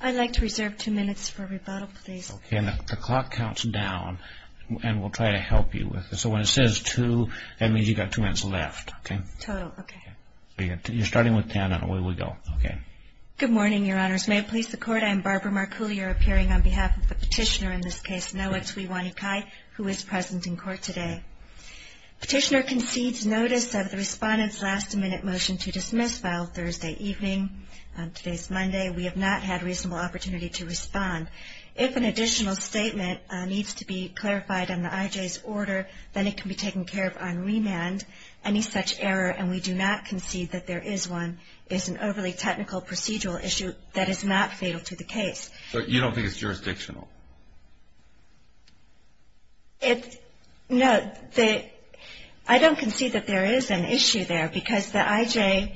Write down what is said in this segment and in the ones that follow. I'd like to reserve two minutes for rebuttal, please. Okay, and the clock counts down, and we'll try to help you with it. So when it says two, that means you've got two minutes left, okay? Total, okay. You're starting with ten, and away we go. Okay. Good morning, Your Honors. May it please the Court, I am Barbara Marcoulier, appearing on behalf of the petitioner in this case, Noah Tuiwainikai, who is present in court today. Petitioner concedes notice of the Respondent's last-minute motion to dismiss file Thursday evening. Today is Monday. We have not had a reasonable opportunity to respond. If an additional statement needs to be clarified on the IJ's order, then it can be taken care of on remand. Any such error, and we do not concede that there is one, is an overly technical procedural issue that is not fatal to the case. So you don't think it's jurisdictional? No, I don't concede that there is an issue there, because the IJ,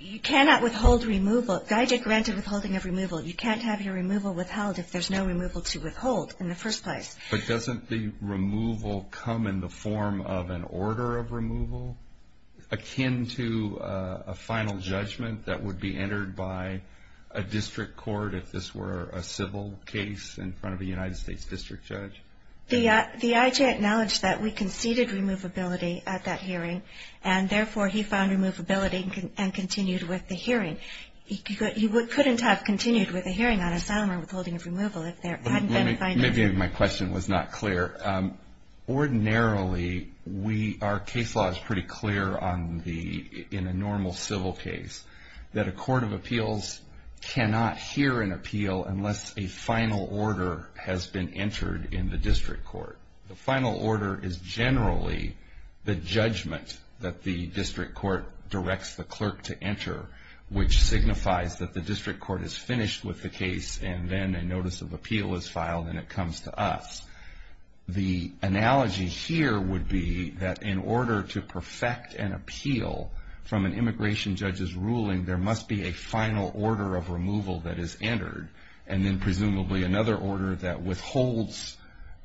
you cannot withhold removal. The IJ granted withholding of removal. You can't have your removal withheld if there's no removal to withhold in the first place. But doesn't the removal come in the form of an order of removal akin to a final judgment that would be entered by a district court, if this were a civil case in front of a United States district judge? The IJ acknowledged that we conceded removability at that hearing, and therefore he found removability and continued with the hearing. He couldn't have continued with the hearing on asylum or withholding of removal if there hadn't been a final judgment. Maybe my question was not clear. Ordinarily, our case law is pretty clear in a normal civil case, that a court of appeals cannot hear an appeal unless a final order has been entered in the district court. The final order is generally the judgment that the district court directs the clerk to enter, which signifies that the district court is finished with the case and then a notice of appeal is filed and it comes to us. The analogy here would be that in order to perfect an appeal from an immigration judge's ruling, there must be a final order of removal that is entered, and then presumably another order that withholds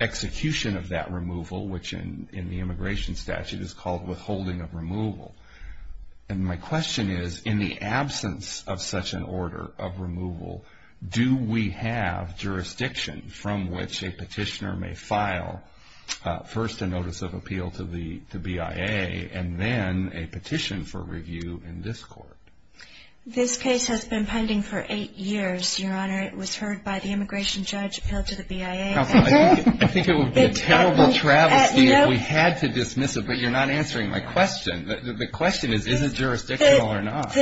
execution of that removal, which in the immigration statute is called withholding of removal. And my question is, in the absence of such an order of removal, do we have jurisdiction from which a petitioner may file first a notice of appeal to the BIA and then a petition for review in this court? This case has been pending for eight years, Your Honor. It was heard by the immigration judge appealed to the BIA. I think it would be a terrible travesty if we had to dismiss it, but you're not answering my question. The question is, is it jurisdictional or not?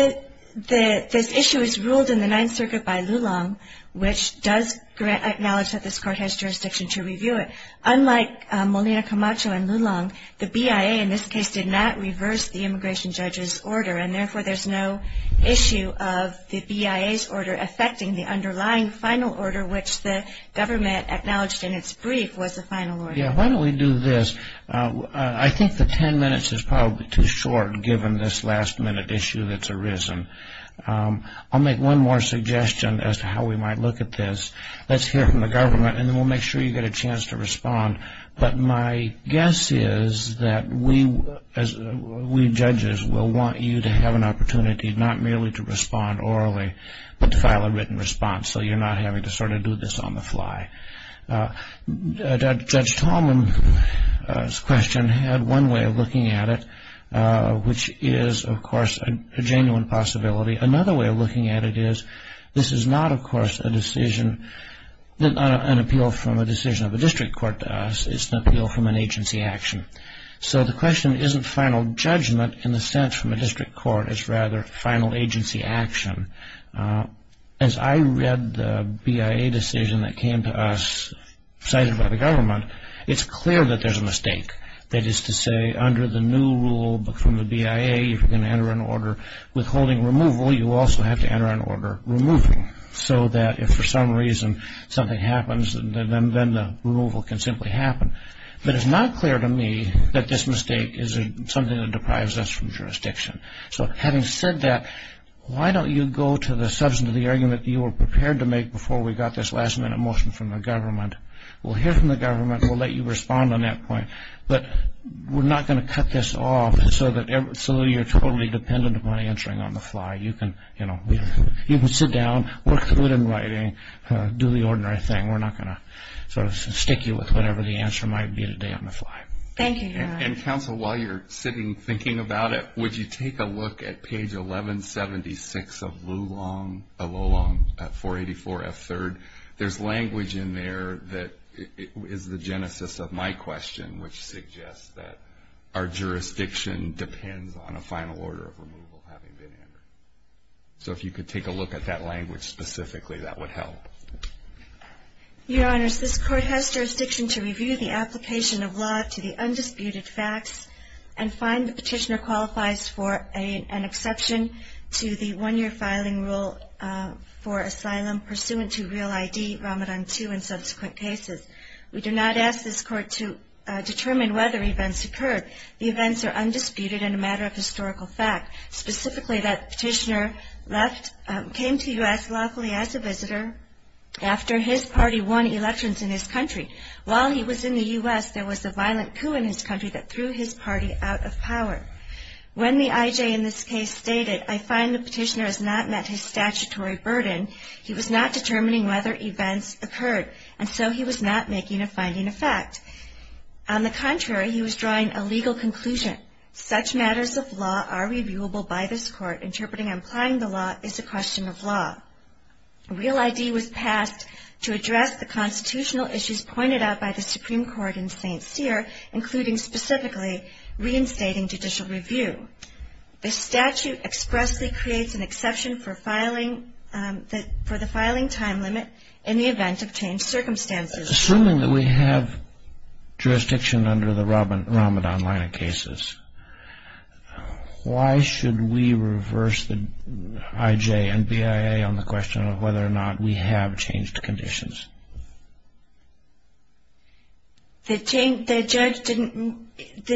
This issue is ruled in the Ninth Circuit by Lulong, which does acknowledge that this court has jurisdiction to review it. Unlike Molina Camacho and Lulong, the BIA in this case did not reverse the immigration judge's order, and therefore there's no issue of the BIA's order affecting the underlying final order, which the government acknowledged in its brief was the final order. Yeah, why don't we do this? I think the ten minutes is probably too short given this last-minute issue that's arisen. I'll make one more suggestion as to how we might look at this. Let's hear from the government, and then we'll make sure you get a chance to respond. But my guess is that we judges will want you to have an opportunity not merely to respond orally, but to file a written response so you're not having to sort of do this on the fly. Judge Tallman's question had one way of looking at it, which is, of course, a genuine possibility. Another way of looking at it is this is not, of course, an appeal from a decision of a district court to us. It's an appeal from an agency action. So the question isn't final judgment in the sense from a district court. It's rather final agency action. As I read the BIA decision that came to us cited by the government, it's clear that there's a mistake. That is to say, under the new rule from the BIA, if you're going to enter an order withholding removal, you also have to enter an order removing so that if for some reason something happens, then the removal can simply happen. But it's not clear to me that this mistake is something that deprives us from jurisdiction. So having said that, why don't you go to the substance of the argument that you were prepared to make before we got this last-minute motion from the government. We'll hear from the government. We'll let you respond on that point. But we're not going to cut this off so that you're totally dependent upon answering on the fly. You can sit down, work through it in writing, do the ordinary thing. We're not going to sort of stick you with whatever the answer might be today on the fly. Thank you, Your Honor. And, counsel, while you're sitting thinking about it, would you take a look at page 1176 of Lulong, 484F3rd? There's language in there that is the genesis of my question, which suggests that our jurisdiction depends on a final order of removal having been entered. So if you could take a look at that language specifically, that would help. Your Honors, this Court has jurisdiction to review the application of law to the undisputed facts and find the petitioner qualifies for an exception to the one-year filing rule for asylum pursuant to Real ID, Ramadan 2, and subsequent cases. We do not ask this Court to determine whether events occurred. The events are undisputed and a matter of historical fact, specifically that the petitioner came to U.S. lawfully as a visitor after his party won elections in his country. While he was in the U.S., there was a violent coup in his country that threw his party out of power. When the I.J. in this case stated, I find the petitioner has not met his statutory burden, he was not determining whether events occurred, and so he was not making a finding of fact. On the contrary, he was drawing a legal conclusion. Such matters of law are reviewable by this Court. Interpreting and applying the law is a question of law. Real ID was passed to address the constitutional issues pointed out by the Supreme Court in St. Cyr, including specifically reinstating judicial review. The statute expressly creates an exception for the filing time limit in the event of changed circumstances. Assuming that we have jurisdiction under the Ramadan line of cases, why should we reverse the I.J. and B.I.A. on the question of whether or not we have changed conditions? The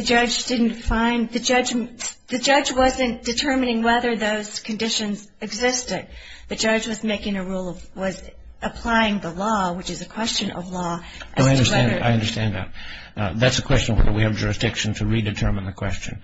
judge didn't find the judgment. The judge wasn't determining whether those conditions existed. The judge was applying the law, which is a question of law. I understand that. That's a question of whether we have jurisdiction to redetermine the question.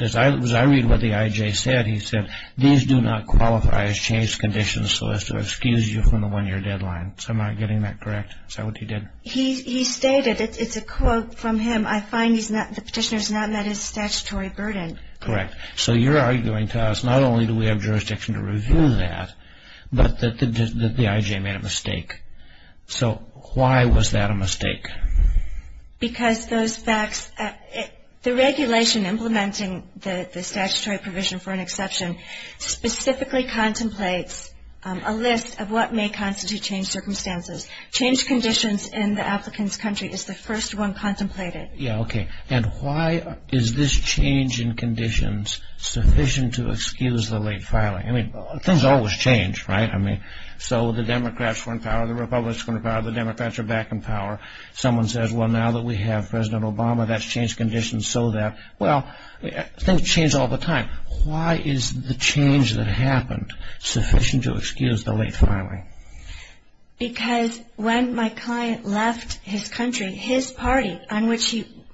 As I read what the I.J. said, he said, these do not qualify as changed conditions so as to excuse you from the one-year deadline. Am I getting that correct? Is that what he did? He stated, it's a quote from him, I find the petitioner has not met his statutory burden. Correct. So you're arguing to us, not only do we have jurisdiction to review that, but that the I.J. made a mistake. So why was that a mistake? Because the regulation implementing the statutory provision for an exception specifically contemplates a list of what may constitute changed circumstances. Changed conditions in the applicant's country is the first one contemplated. And why is this change in conditions sufficient to excuse the late filing? Things always change, right? So the Democrats are in power, the Republicans are in power, the Democrats are back in power. Someone says, well, now that we have President Obama, that's changed conditions so that. Well, things change all the time. Why is the change that happened sufficient to excuse the late filing? Because when my client left his country, his party,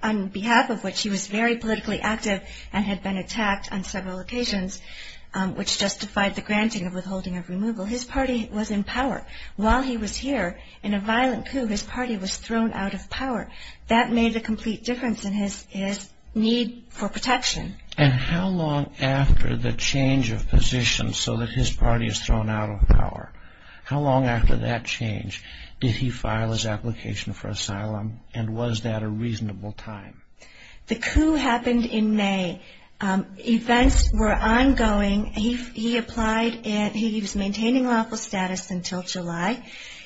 on behalf of which he was very politically active and had been attacked on several occasions, which justified the granting of withholding of removal, his party was in power. While he was here, in a violent coup, his party was thrown out of power. That made a complete difference in his need for protection. And how long after the change of position so that his party is thrown out of power, how long after that change did he file his application for asylum, and was that a reasonable time? The coup happened in May. Events were ongoing. He applied and he was maintaining lawful status until July.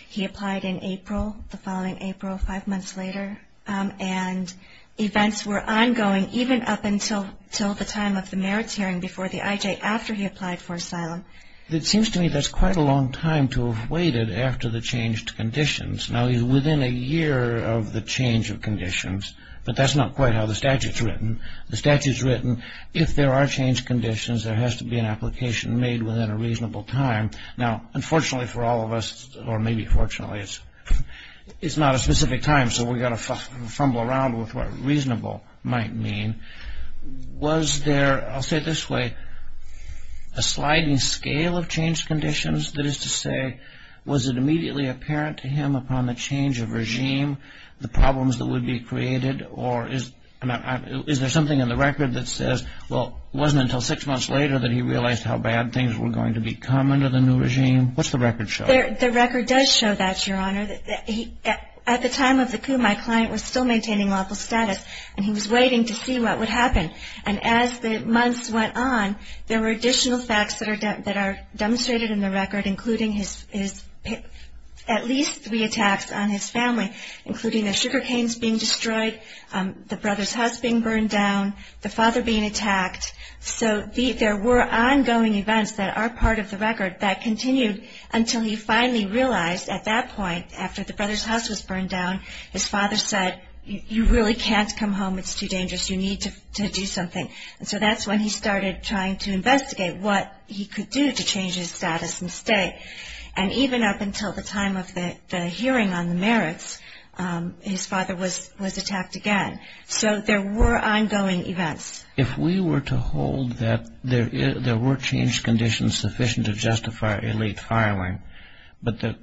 He applied in April, the following April, five months later. And events were ongoing even up until the time of the merits hearing before the IJ, after he applied for asylum. It seems to me that's quite a long time to have waited after the changed conditions. Now, within a year of the change of conditions, but that's not quite how the statute's written. The statute's written, if there are changed conditions, there has to be an application made within a reasonable time. Now, unfortunately for all of us, or maybe fortunately, it's not a specific time, so we've got to fumble around with what reasonable might mean. Was there, I'll say it this way, a sliding scale of changed conditions? That is to say, was it immediately apparent to him upon the change of regime, the problems that would be created, or is there something in the record that says, well, it wasn't until six months later that he realized how bad things were going to become under the new regime? What's the record show? The record does show that, Your Honor. At the time of the coup, my client was still maintaining lawful status, and he was waiting to see what would happen. And as the months went on, there were additional facts that are demonstrated in the record, including at least three attacks on his family, including the sugar canes being destroyed, the brother's house being burned down, the father being attacked. So there were ongoing events that are part of the record that continued until he finally realized at that point, after the brother's house was burned down, his father said, you really can't come home. It's too dangerous. You need to do something. And so that's when he started trying to investigate what he could do to change his status and stay. And even up until the time of the hearing on the merits, his father was attacked again. So there were ongoing events. If we were to hold that there were changed conditions sufficient to justify a late filing, but do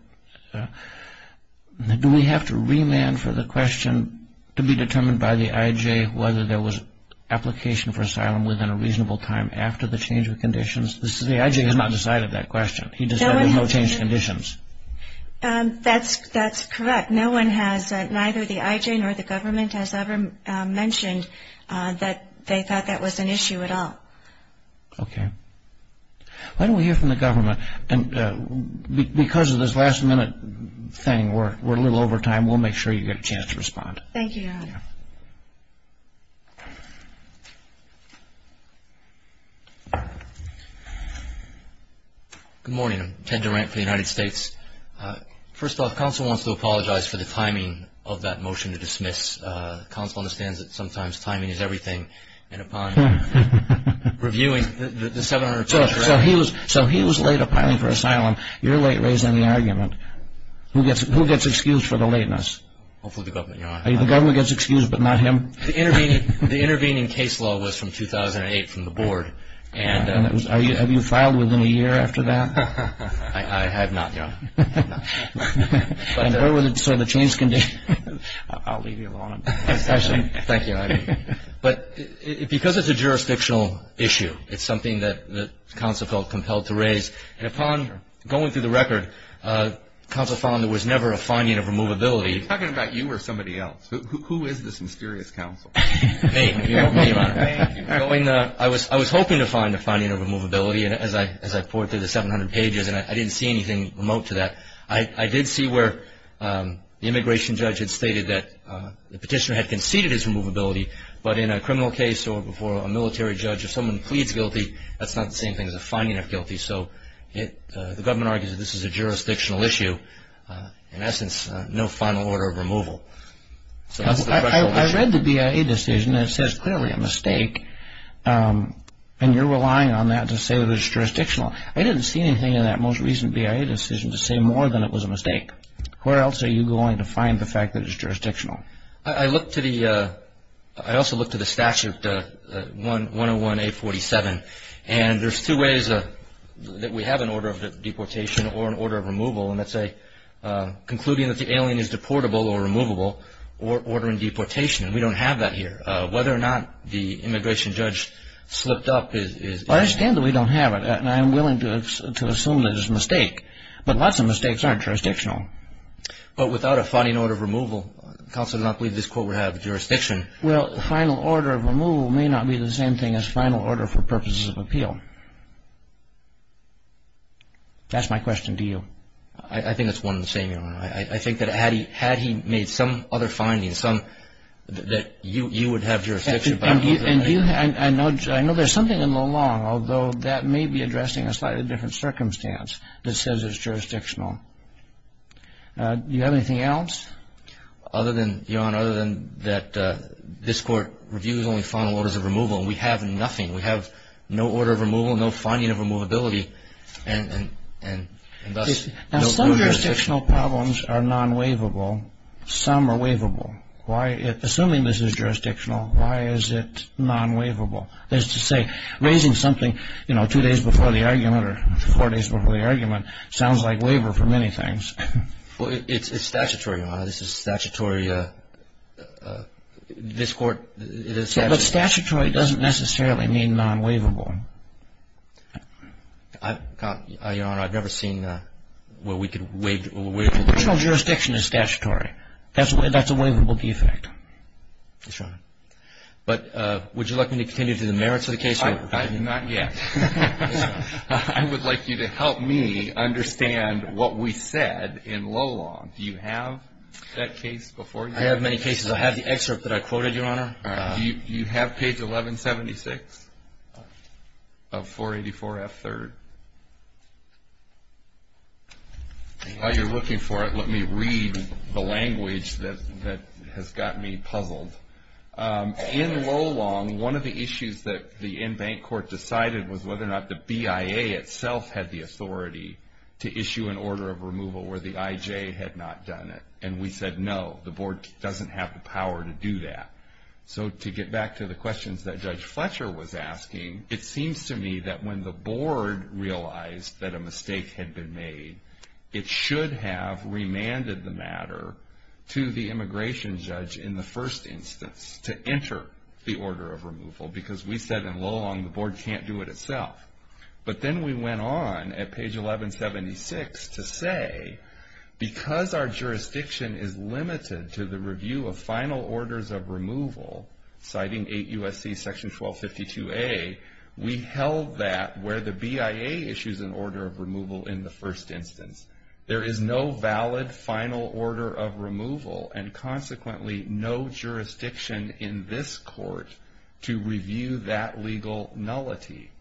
we have to remand for the question to be determined by the IJ whether there was application for asylum The IJ has not decided that question. He decided there were no changed conditions. That's correct. Neither the IJ nor the government has ever mentioned that they thought that was an issue at all. Okay. Why don't we hear from the government? And because of this last-minute thing, we're a little over time. We'll make sure you get a chance to respond. Thank you, Your Honor. Thank you. Good morning. I'm Ted Durant for the United States. First off, counsel wants to apologize for the timing of that motion to dismiss. Counsel understands that sometimes timing is everything. And upon reviewing the 700 pages- So he was late applying for asylum. You're late raising the argument. Who gets excused for the lateness? Hopefully the government, Your Honor. The government gets excused but not him? The intervening case law was from 2008 from the board. And have you filed within a year after that? I have not, Your Honor. And where were the changed conditions? I'll leave you alone. Thank you. But because it's a jurisdictional issue, it's something that counsel felt compelled to raise. And upon going through the record, counsel found there was never a finding of removability. He's talking about you or somebody else. Who is this mysterious counsel? Me, Your Honor. I was hoping to find a finding of removability as I pored through the 700 pages, and I didn't see anything remote to that. I did see where the immigration judge had stated that the petitioner had conceded his removability, but in a criminal case or before a military judge, if someone pleads guilty, that's not the same thing as a finding of guilty. So the government argues that this is a jurisdictional issue. In essence, no final order of removal. I read the BIA decision, and it says clearly a mistake, and you're relying on that to say that it's jurisdictional. I didn't see anything in that most recent BIA decision to say more than it was a mistake. Where else are you going to find the fact that it's jurisdictional? I looked to the statute, 101-847, and there's two ways that we have an order of deportation or an order of removal, and that's concluding that the alien is deportable or removable, or ordering deportation, and we don't have that here. Whether or not the immigration judge slipped up is unknown. Well, I understand that we don't have it, and I'm willing to assume that it's a mistake, but lots of mistakes aren't jurisdictional. But without a finding order of removal, counsel did not believe this court would have jurisdiction. Well, the final order of removal may not be the same thing as final order for purposes of appeal. That's my question to you. I think it's one and the same, Your Honor. I think that had he made some other findings, some that you would have jurisdiction. And I know there's something in the law, although that may be addressing a slightly different circumstance that says it's jurisdictional. Do you have anything else? Other than, Your Honor, other than that this court reviews only final orders of removal, and we have nothing. We have no order of removal, no finding of removability, and thus no jurisdiction. Now, some jurisdictional problems are non-waivable. Some are waivable. Assuming this is jurisdictional, why is it non-waivable? That is to say, raising something, you know, two days before the argument or four days before the argument sounds like waiver for many things. Well, it's statutory, Your Honor. This is statutory. This court, it is statutory. But statutory doesn't necessarily mean non-waivable. Your Honor, I've never seen where we could waive it. Original jurisdiction is statutory. That's a waivable defect. That's right. But would you like me to continue through the merits of the case? Not yet. I would like you to help me understand what we said in low law. Do you have that case before you? I have many cases. I have the excerpt that I quoted, Your Honor. Do you have page 1176 of 484F3rd? While you're looking for it, let me read the language that has gotten me puzzled. In low law, one of the issues that the in-bank court decided was whether or not the BIA itself had the authority to issue an order of removal where the IJ had not done it. And we said, no, the board doesn't have the power to do that. So to get back to the questions that Judge Fletcher was asking, it seems to me that when the board realized that a mistake had been made, it should have remanded the matter to the immigration judge in the first instance to enter the order of removal because we said in low law, the board can't do it itself. But then we went on at page 1176 to say, because our jurisdiction is limited to the review of final orders of removal, citing 8 U.S.C. section 1252A, we held that where the BIA issues an order of removal in the first instance. There is no valid final order of removal and, consequently, no jurisdiction in this court to review that legal nullity.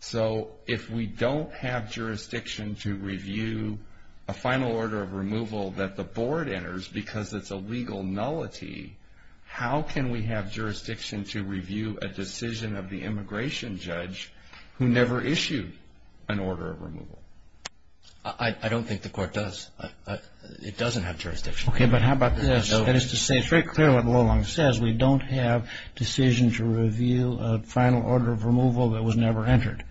So if we don't have jurisdiction to review a final order of removal that the board enters because it's a legal nullity, how can we have jurisdiction to review a decision of the immigration judge who never issued an order of removal? I don't think the court does. It doesn't have jurisdiction. Okay, but how about this? That is to say, it's very clear what the low law says. We don't have decision to review a final order of removal that was never entered.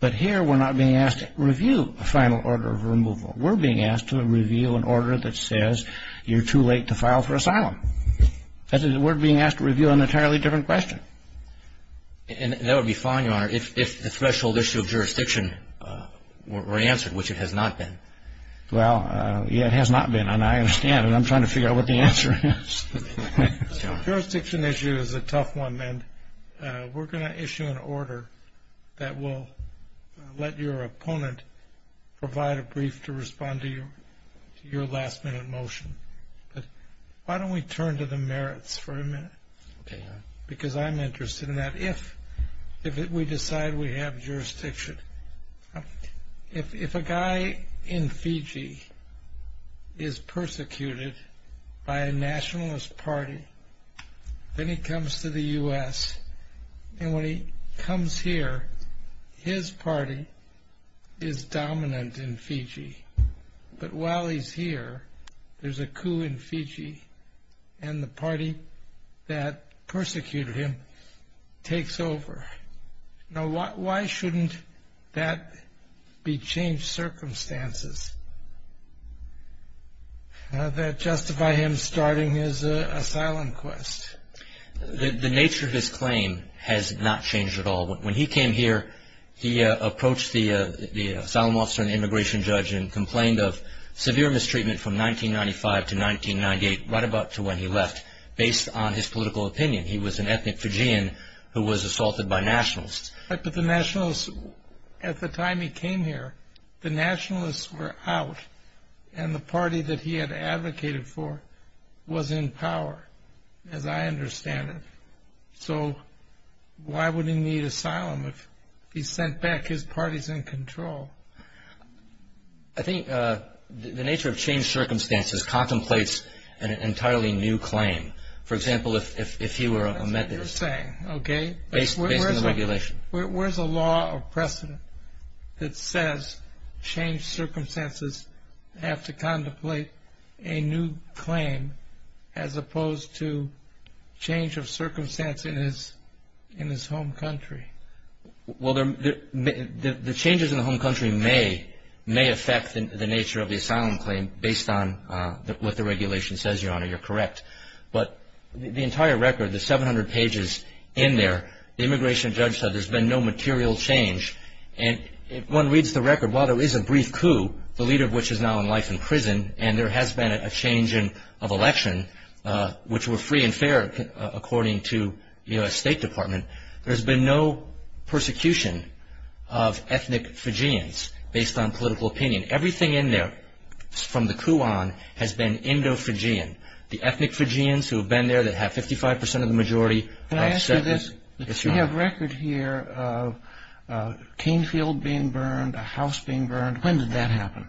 But here we're not being asked to review a final order of removal. We're being asked to review an order that says you're too late to file for asylum. That is, we're being asked to review an entirely different question. And that would be fine, Your Honor, if the threshold issue of jurisdiction were answered, which it has not been. Well, yeah, it has not been, and I understand, and I'm trying to figure out what the answer is. Jurisdiction issue is a tough one, and we're going to issue an order that will let your opponent provide a brief to respond to your last-minute motion. Why don't we turn to the merits for a minute? Okay, Your Honor. Because I'm interested in that. If we decide we have jurisdiction. If a guy in Fiji is persecuted by a nationalist party, then he comes to the U.S., and when he comes here, his party is dominant in Fiji. But while he's here, there's a coup in Fiji, and the party that persecuted him takes over. Now, why shouldn't that be changed circumstances that justify him starting his asylum quest? The nature of his claim has not changed at all. When he came here, he approached the asylum officer and complained of severe mistreatment from 1995 to 1998, right about to when he left, based on his political opinion. He was an ethnic Fijian who was assaulted by nationalists. But the nationalists, at the time he came here, the nationalists were out, and the party that he had advocated for was in power, as I understand it. So why would he need asylum if he sent back his parties in control? I think the nature of changed circumstances contemplates an entirely new claim. For example, if he were a Methodist. That's what you're saying, okay. Based on the regulation. Where's a law or precedent that says changed circumstances have to contemplate a new claim as opposed to change of circumstance in his home country? Well, the changes in the home country may affect the nature of the asylum claim based on what the regulation says, Your Honor. You're correct. But the entire record, the 700 pages in there, the immigration judge said there's been no material change. And if one reads the record, while there is a brief coup, the leader of which is now in life in prison, and there has been a change of election, which were free and fair, according to the U.S. State Department, there's been no persecution of ethnic Fijians based on political opinion. Everything in there from the coup on has been Indo-Fijian. The ethnic Fijians who have been there that have 55 percent of the majority. Can I ask you this? Yes, Your Honor. We have record here of a cane field being burned, a house being burned. When did that happen?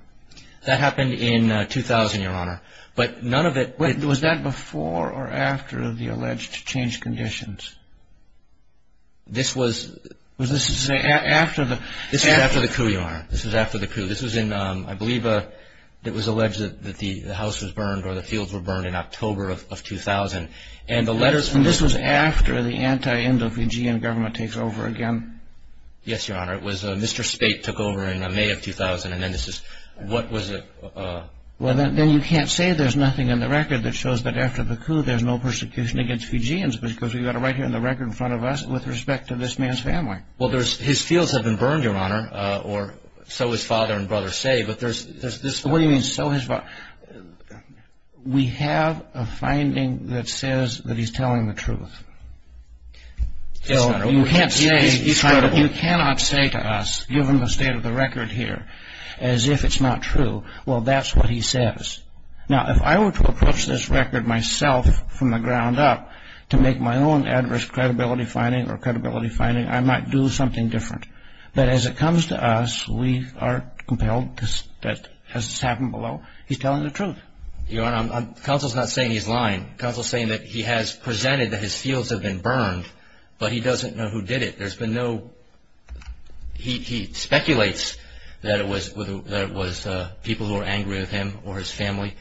That happened in 2000, Your Honor. But none of it – Was that before or after the alleged change conditions? This was – Was this after the – This was after the coup, Your Honor. This was after the coup. This was in, I believe, it was alleged that the house was burned or the fields were burned in October of 2000. And the letters – And this was after the anti-Indo-Fijian government takes over again? Yes, Your Honor. It was Mr. Spate took over in May of 2000, and then this is – What was it? Well, then you can't say there's nothing in the record that shows that after the coup there's no persecution against Fijians because we've got it right here in the record in front of us with respect to this man's family. Well, his fields have been burned, Your Honor, or so his father and brother say, but there's this – What do you mean, so his father – We have a finding that says that he's telling the truth. Yes, Your Honor. You cannot say to us, given the state of the record here, as if it's not true, well, that's what he says. Now, if I were to approach this record myself from the ground up to make my own adverse credibility finding or credibility finding, I might do something different. But as it comes to us, we are compelled, as has happened below, he's telling the truth. Counsel is saying that he has presented that his fields have been burned, but he doesn't know who did it. There's been no – he speculates that it was people who were angry with him or his family.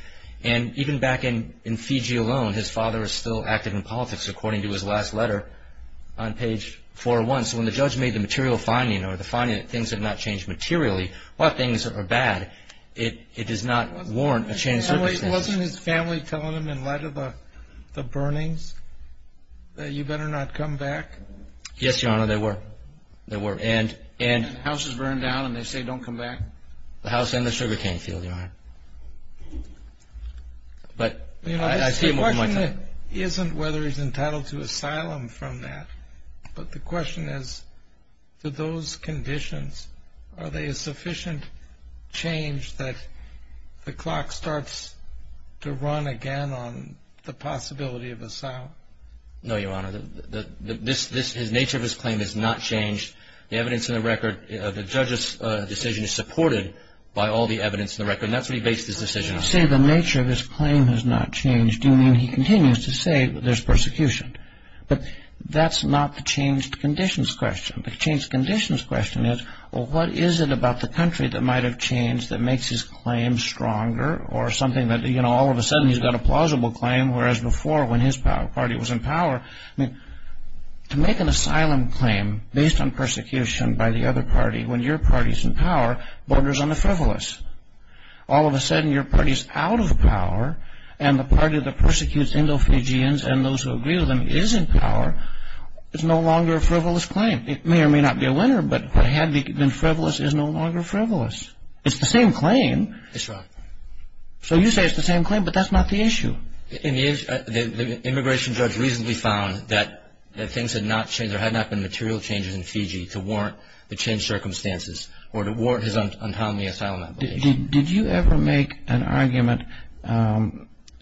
And even back in Fiji alone, his father is still active in politics, according to his last letter on page 401. So when the judge made the material finding or the finding that things have not changed materially, while things are bad, it does not warrant a change of circumstances. So wasn't his family telling him, in light of the burnings, that you better not come back? Yes, Your Honor, they were. And the house is burned down and they say don't come back? The house and the sugarcane field, Your Honor. But I see him over my time. The question isn't whether he's entitled to asylum from that, but the question is, to those conditions, are they a sufficient change that the clock starts to run again on the possibility of asylum? No, Your Honor. The nature of his claim has not changed. The evidence in the record – the judge's decision is supported by all the evidence in the record, and that's what he based his decision on. So when you say the nature of his claim has not changed, do you mean he continues to say there's persecution? But that's not the changed conditions question. The changed conditions question is, well, what is it about the country that might have changed that makes his claim stronger or something that, you know, all of a sudden he's got a plausible claim, whereas before when his party was in power, I mean, to make an asylum claim based on persecution by the other party when your party's in power borders on the frivolous. All of a sudden your party's out of power and the party that persecutes Indofijians and those who agree with them is in power is no longer a frivolous claim. It may or may not be a winner, but what had been frivolous is no longer frivolous. It's the same claim. That's right. So you say it's the same claim, but that's not the issue. The immigration judge recently found that things had not changed or had not been material changes in Fiji to warrant the changed circumstances or to warrant his unholy asylum application. Did you ever make an argument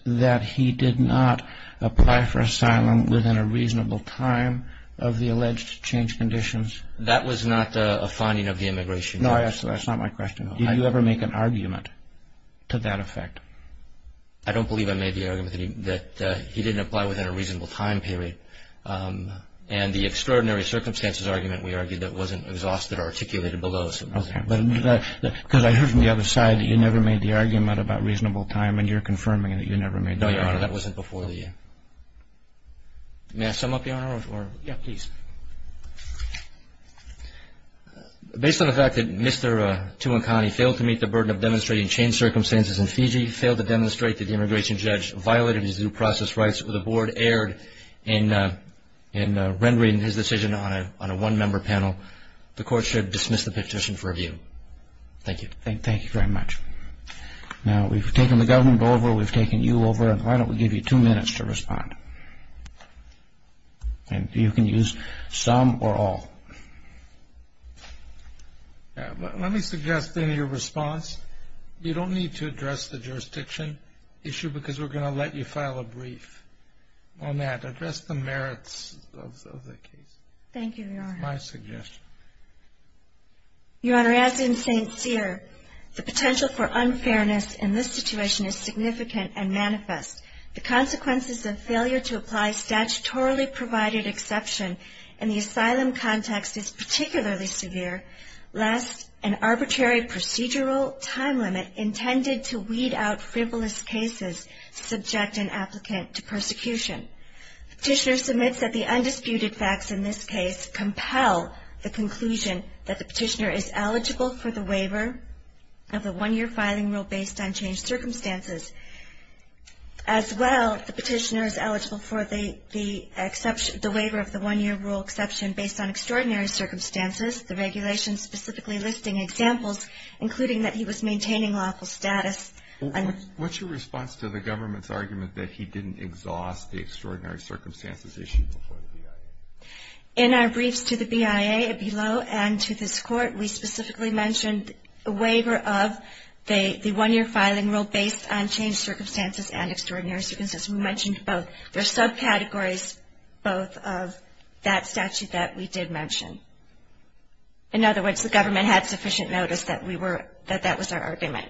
that he did not apply for asylum within a reasonable time of the alleged changed conditions? That was not a finding of the immigration judge. No, that's not my question. Did you ever make an argument to that effect? I don't believe I made the argument that he didn't apply within a reasonable time period. And the extraordinary circumstances argument we argued that wasn't exhausted or articulated below. Okay. Because I heard from the other side that you never made the argument about reasonable time and you're confirming that you never made the argument. No, Your Honor, that wasn't before the end. May I sum up, Your Honor? Yeah, please. Based on the fact that Mr. Tuankani failed to meet the burden of demonstrating changed circumstances in Fiji, failed to demonstrate that the immigration judge violated his due process rights, with the board erred in rendering his decision on a one-member panel, the court should dismiss the petition for review. Thank you. Thank you very much. Now, we've taken the government over, we've taken you over, and why don't we give you two minutes to respond. And you can use some or all. Let me suggest in your response, you don't need to address the jurisdiction issue because we're going to let you file a brief on that. Address the merits of the case. Thank you, Your Honor. That's my suggestion. Your Honor, as in St. Cyr, the potential for unfairness in this situation is significant and manifest. The consequences of failure to apply statutorily provided exception in the asylum context is particularly severe, lest an arbitrary procedural time limit intended to weed out frivolous cases subject an applicant to persecution. Petitioner submits that the undisputed facts in this case compel the conclusion that the petitioner is eligible for the waiver of the one-year filing rule based on changed circumstances. As well, the petitioner is eligible for the waiver of the one-year rule exception based on extraordinary circumstances, the regulations specifically listing examples, including that he was maintaining lawful status. What's your response to the government's argument that he didn't exhaust the extraordinary circumstances issue before the BIA? In our briefs to the BIA below and to this Court, we specifically mentioned a waiver of the one-year filing rule based on changed circumstances and extraordinary circumstances. We mentioned both. There are subcategories both of that statute that we did mention. In other words, the government had sufficient notice that we were, that that was our argument.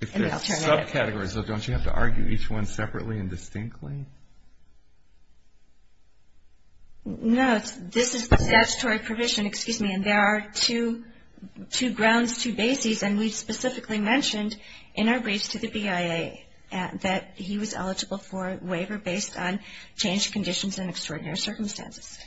If there's subcategories, don't you have to argue each one separately and distinctly? No, this is the statutory provision, excuse me, and there are two grounds, two bases, and we specifically mentioned in our briefs to the BIA that he was eligible for a waiver based on changed conditions and extraordinary circumstances.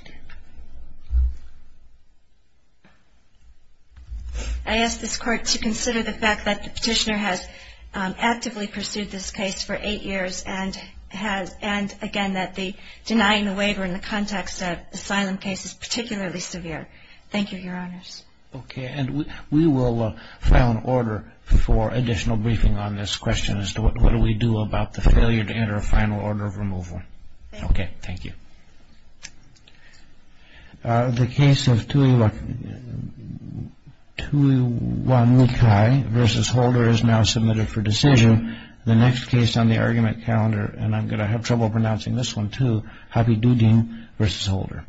I ask this Court to consider the fact that the petitioner has actively pursued this case for eight years and has, and again that the denying the waiver in the context of asylum case is particularly severe. Thank you, Your Honors. Okay. And we will file an order for additional briefing on this question as to what do we do about the failure to enter a final order of removal. Okay. Thank you. The case of Tu-i-wa-nu-kai v. Holder is now submitted for decision. Thank you. The next case on the argument calendar, and I'm going to have trouble pronouncing this one, too, Habibuddin v. Holder.